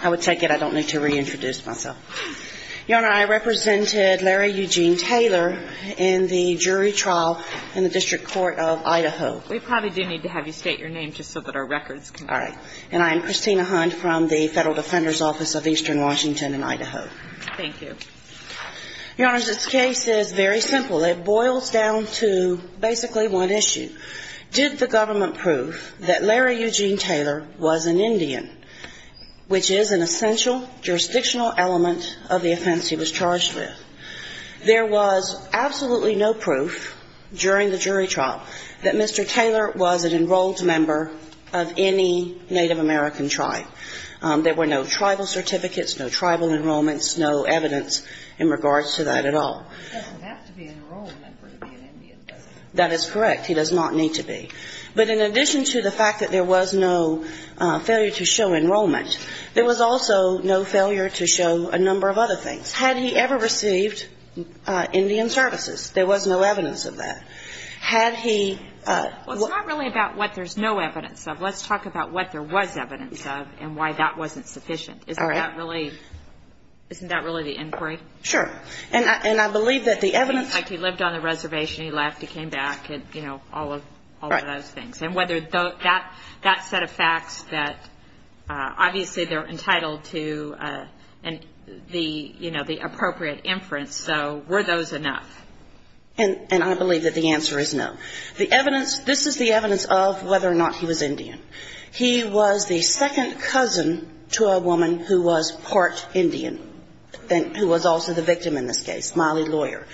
I would take it. I don't need to reintroduce myself. Your Honor, I represented Larry Eugene Taylor in the jury trial in the District Court of Idaho. We probably do need to have you state your name just so that our records can be clear. All right. And I am Christina Hunt from the Federal Defender's Office of Eastern Washington in Idaho. Thank you. Your Honor, this case is very simple. It boils down to basically one issue. Did the government prove that Larry Eugene Taylor was an Indian, which is an essential jurisdictional element of the offense he was charged with? There was absolutely no proof during the jury trial that Mr. Taylor was an enrolled member of any Native American tribe. There were no tribal certificates, no tribal enrollments, no evidence in regards to that at all. He doesn't have to be an enrolled member to be an Indian, does he? That is correct. He does not need to be. But in addition to the fact that there was no failure to show enrollment, there was also no failure to show a number of other things. Had he ever received Indian services? There was no evidence of that. Had he ---- Well, it's not really about what there's no evidence of. Let's talk about what there was evidence of and why that wasn't sufficient. All right. Isn't that really the inquiry? Sure. And I believe that the evidence ---- Like he lived on the reservation, he left, he came back, you know, all of those things. Right. And whether that set of facts that obviously they're entitled to and the, you know, the appropriate inference, so were those enough? And I believe that the answer is no. The evidence ---- this is the evidence of whether or not he was Indian. He was the second cousin to a woman who was part Indian and who was also the victim in this case, Miley Lawyer.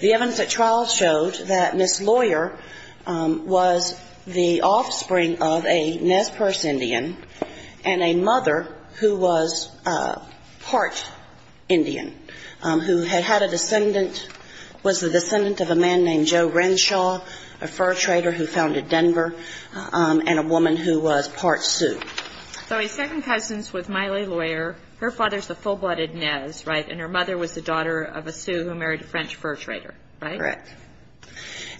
The evidence at trial showed that Ms. Lawyer was the offspring of a Nez Perce Indian and a mother who was part Indian, who had had a descendant ---- was the descendant of a man named Joe Renshaw, a fur trader who founded Denver, and a woman who was part Sioux. So his second cousin is with Miley Lawyer. Her father is the full-blooded Nez, right? And her mother was the daughter of a Sioux who married a French fur trader, right? Correct.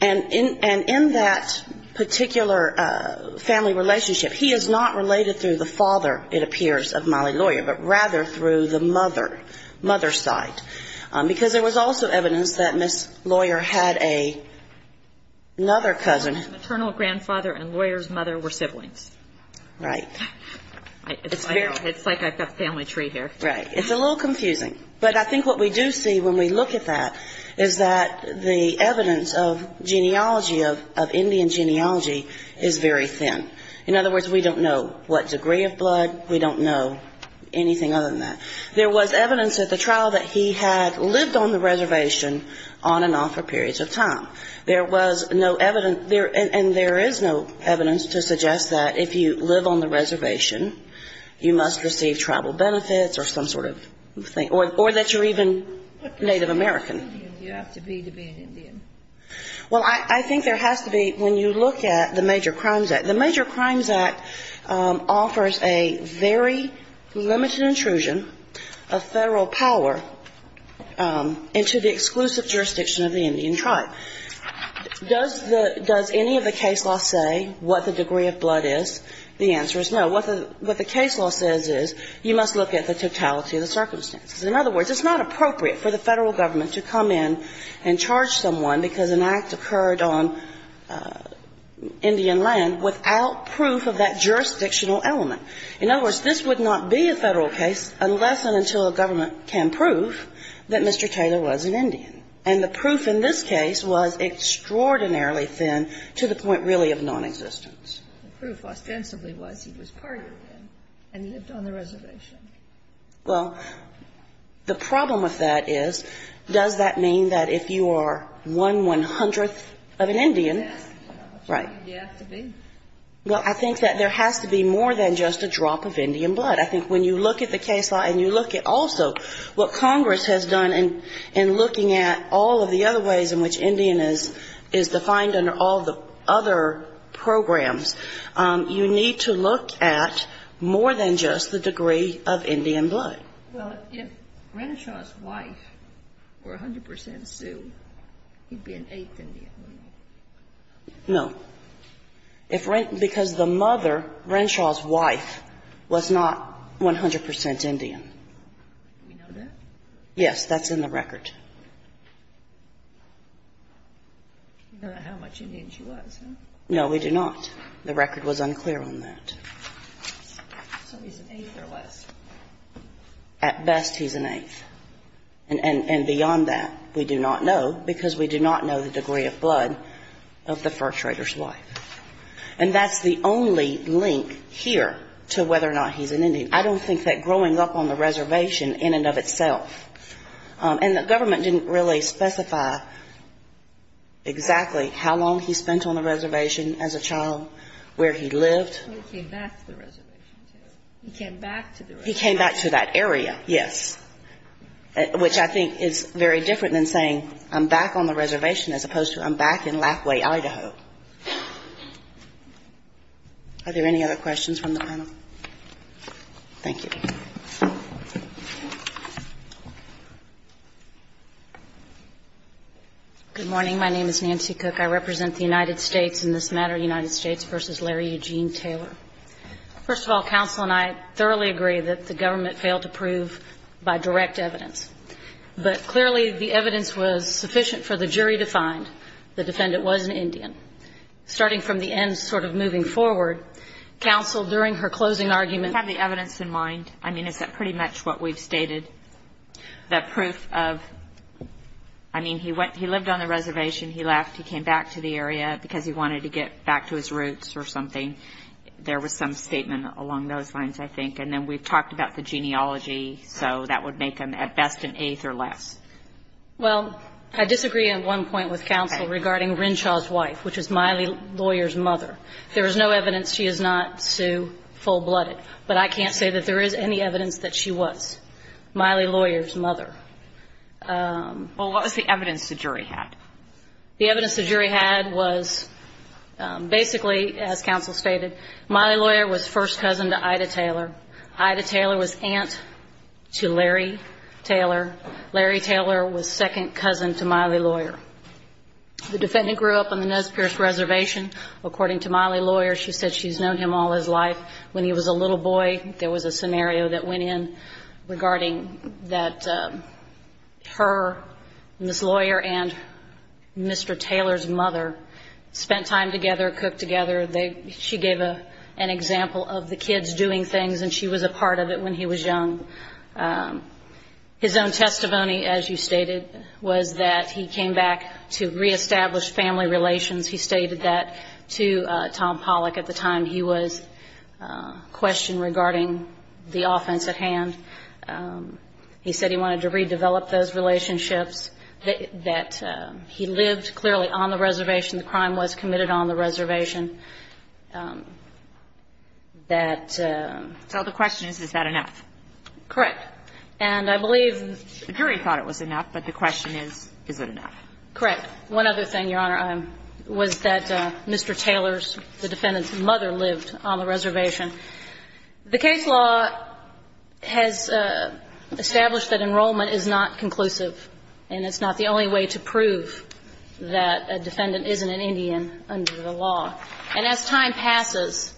And in that particular family relationship, he is not related through the father, it appears, of Miley Lawyer, but rather through the mother, mother's side, because there was also evidence that Ms. Lawyer had another cousin. The maternal grandfather and Lawyer's mother were siblings. Right. It's like I've got a family tree here. Right. It's a little confusing. But I think what we do see when we look at that is that the evidence of genealogy of Indian genealogy is very thin. In other words, we don't know what degree of blood. We don't know anything other than that. There was evidence at the trial that he had lived on the reservation on and off for periods of time. There was no evidence, and there is no evidence to suggest that if you live on the reservation, you must receive tribal benefits or some sort of thing, or that you're even Native American. What does it have to be to be an Indian? Well, I think there has to be, when you look at the Major Crimes Act, the Major Crimes Act offers a very limited intrusion of Federal power into the exclusive jurisdiction of the Indian tribe. Does the – does any of the case law say what the degree of blood is? The answer is no. What the case law says is you must look at the totality of the circumstances. In other words, it's not appropriate for the Federal Government to come in and charge someone because an act occurred on Indian land without proof of that jurisdictional element. In other words, this would not be a Federal case unless and until a government can prove that Mr. Taylor was an Indian. And the proof in this case was extraordinarily thin to the point really of nonexistence. The proof ostensibly was he was part Indian and lived on the reservation. Well, the problem with that is, does that mean that if you are one one-hundredth of an Indian, right? It has to be. Well, I think that there has to be more than just a drop of Indian blood. I think when you look at the case law and you look at also what Congress has done in looking at all of the other ways in which Indian is defined under all the other programs, you need to look at more than just the degree of Indian blood. Well, if Renishaw's wife were 100 percent Sioux, he'd be an eighth Indian, wouldn't he? No. Because the mother, Renishaw's wife, was not 100 percent Indian. Do we know that? Yes. That's in the record. I don't know how much Indian she was. No, we do not. The record was unclear on that. So he's an eighth or less. At best, he's an eighth. And beyond that, we do not know, because we do not know the degree of blood of the arbitrator's wife. And that's the only link here to whether or not he's an Indian. I don't think that growing up on the reservation in and of itself, and the government didn't really specify exactly how long he spent on the reservation as a child, where he lived. He came back to the reservation, too. He came back to the reservation. He came back to that area, yes, which I think is very different than saying I'm back on Lathway, Idaho. Are there any other questions from the panel? Thank you. Good morning. My name is Nancy Cook. I represent the United States in this matter, United States v. Larry Eugene Taylor. First of all, counsel and I thoroughly agree that the government failed to prove by direct evidence. But clearly, the evidence was sufficient for the jury to find the defendant was an Indian. Starting from the end, sort of moving forward, counsel, during her closing argument had the evidence in mind. I mean, is that pretty much what we've stated? That proof of, I mean, he went, he lived on the reservation. He left. He came back to the area because he wanted to get back to his roots or something. There was some statement along those lines, I think. And then we've talked about the genealogy, so that would make him at best an eighth or less. Well, I disagree at one point with counsel regarding Renshaw's wife, which is Miley Lawyer's mother. There is no evidence she is not, Sue, full-blooded. But I can't say that there is any evidence that she was Miley Lawyer's mother. Well, what was the evidence the jury had? The evidence the jury had was basically, as counsel stated, Miley Lawyer was first cousin to Ida Taylor. Ida Taylor was aunt to Larry Taylor. Larry Taylor was second cousin to Miley Lawyer. The defendant grew up on the Nez Perce Reservation. According to Miley Lawyer, she said she's known him all his life. When he was a little boy, there was a scenario that went in regarding that her, Ms. Lawyer, and Mr. Taylor's mother spent time together, cooked together. She gave an example of the kids doing things, and she was a part of it when he was young. His own testimony, as you stated, was that he came back to reestablish family relations. He stated that to Tom Pollack at the time he was questioned regarding the offense at hand. He said he wanted to redevelop those relationships, that he lived clearly on the reservation. The crime was committed on the reservation. That ---- So the question is, is that enough? Correct. And I believe ---- The jury thought it was enough, but the question is, is it enough? Correct. One other thing, Your Honor, was that Mr. Taylor's, the defendant's, mother lived on the reservation. The case law has established that enrollment is not conclusive, and it's not the only way to prove that a defendant isn't an Indian under the law. And as time passes,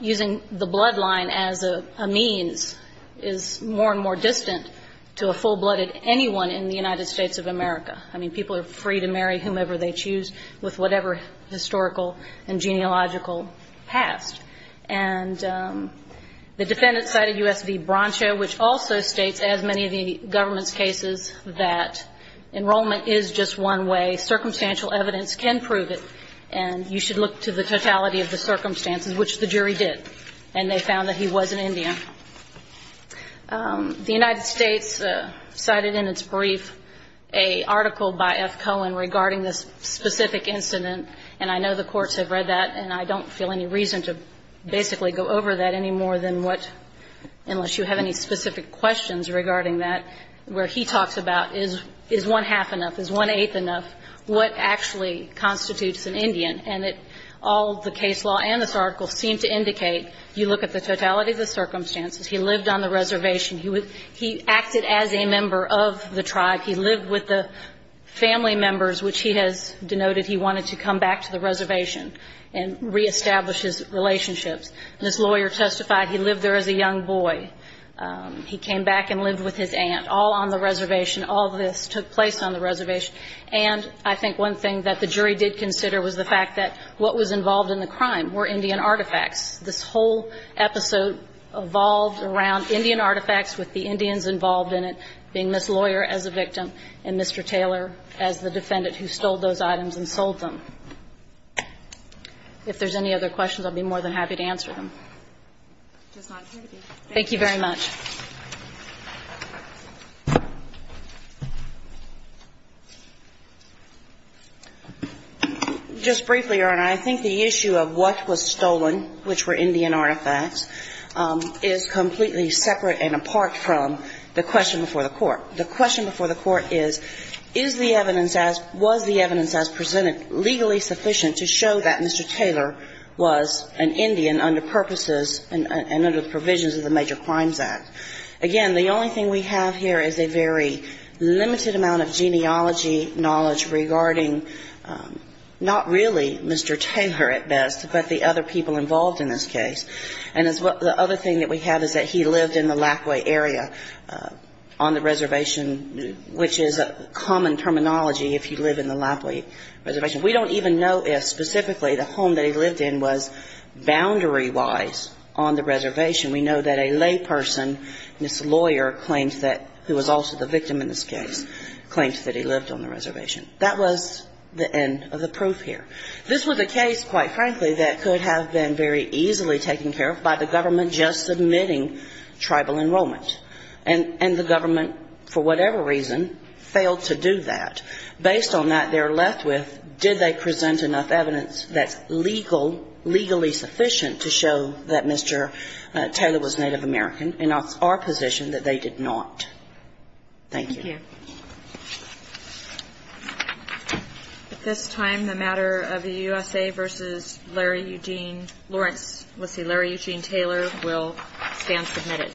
using the bloodline as a means is more and more distant to a full-blooded anyone in the United States of America. I mean, people are free to marry whomever they choose with whatever historical and genealogical past. And the defendant cited U.S. v. Broncho, which also states, as many of the government's cases, that enrollment is just one way. Circumstantial evidence can prove it. And you should look to the totality of the circumstances, which the jury did. And they found that he was an Indian. The United States cited in its brief an article by F. Cohen regarding this specific incident, and I know the courts have read that, and I don't feel any reason to basically go over that any more than what, unless you have any specific questions regarding that, where he talks about is one-half enough, is one-eighth enough, what actually constitutes an Indian. And all the case law and this article seem to indicate you look at the totality of the circumstances. He lived on the reservation. He acted as a member of the tribe. He lived with the family members, which he has denoted he wanted to come back to the reservation and reestablish his relationships. This lawyer testified he lived there as a young boy. He came back and lived with his aunt, all on the reservation. All this took place on the reservation. And I think one thing that the jury did consider was the fact that what was involved in the crime were Indian artifacts. This whole episode evolved around Indian artifacts with the Indians involved in it, being this lawyer as a victim and Mr. Taylor as the defendant who stole those items and sold them. If there's any other questions, I'll be more than happy to answer them. Thank you very much. Just briefly, Your Honor, I think the issue of what was stolen, which were Indian artifacts, is completely separate and apart from the question before the Court. The question before the Court is, is the evidence as – was the evidence as presented legally sufficient to show that Mr. Taylor was an Indian under purposes and under provisions of the Major Crimes Act? Again, the only thing we have here is a very limited amount of genealogy knowledge regarding not really Mr. Taylor at best, but the other people involved in this case. And the other thing that we have is that he lived in the Lackaway area on the reservation, which is a common terminology if you live in the Lackaway reservation. We don't even know if specifically the home that he lived in was boundary-wise on the reservation. We know that a layperson, this lawyer claims that – who was also the victim in this case – claims that he lived on the reservation. That was the end of the proof here. This was a case, quite frankly, that could have been very easily taken care of by the government just submitting tribal enrollment. And the government, for whatever reason, failed to do that. Based on that, they're left with did they present enough evidence that's legal, legally sufficient to show that Mr. Taylor was Native American, and it's our position that they did not. Thank you. Thank you. At this time, the matter of the USA v. Larry Eugene – Lawrence, let's see, Larry Eugene Taylor will stand submitted.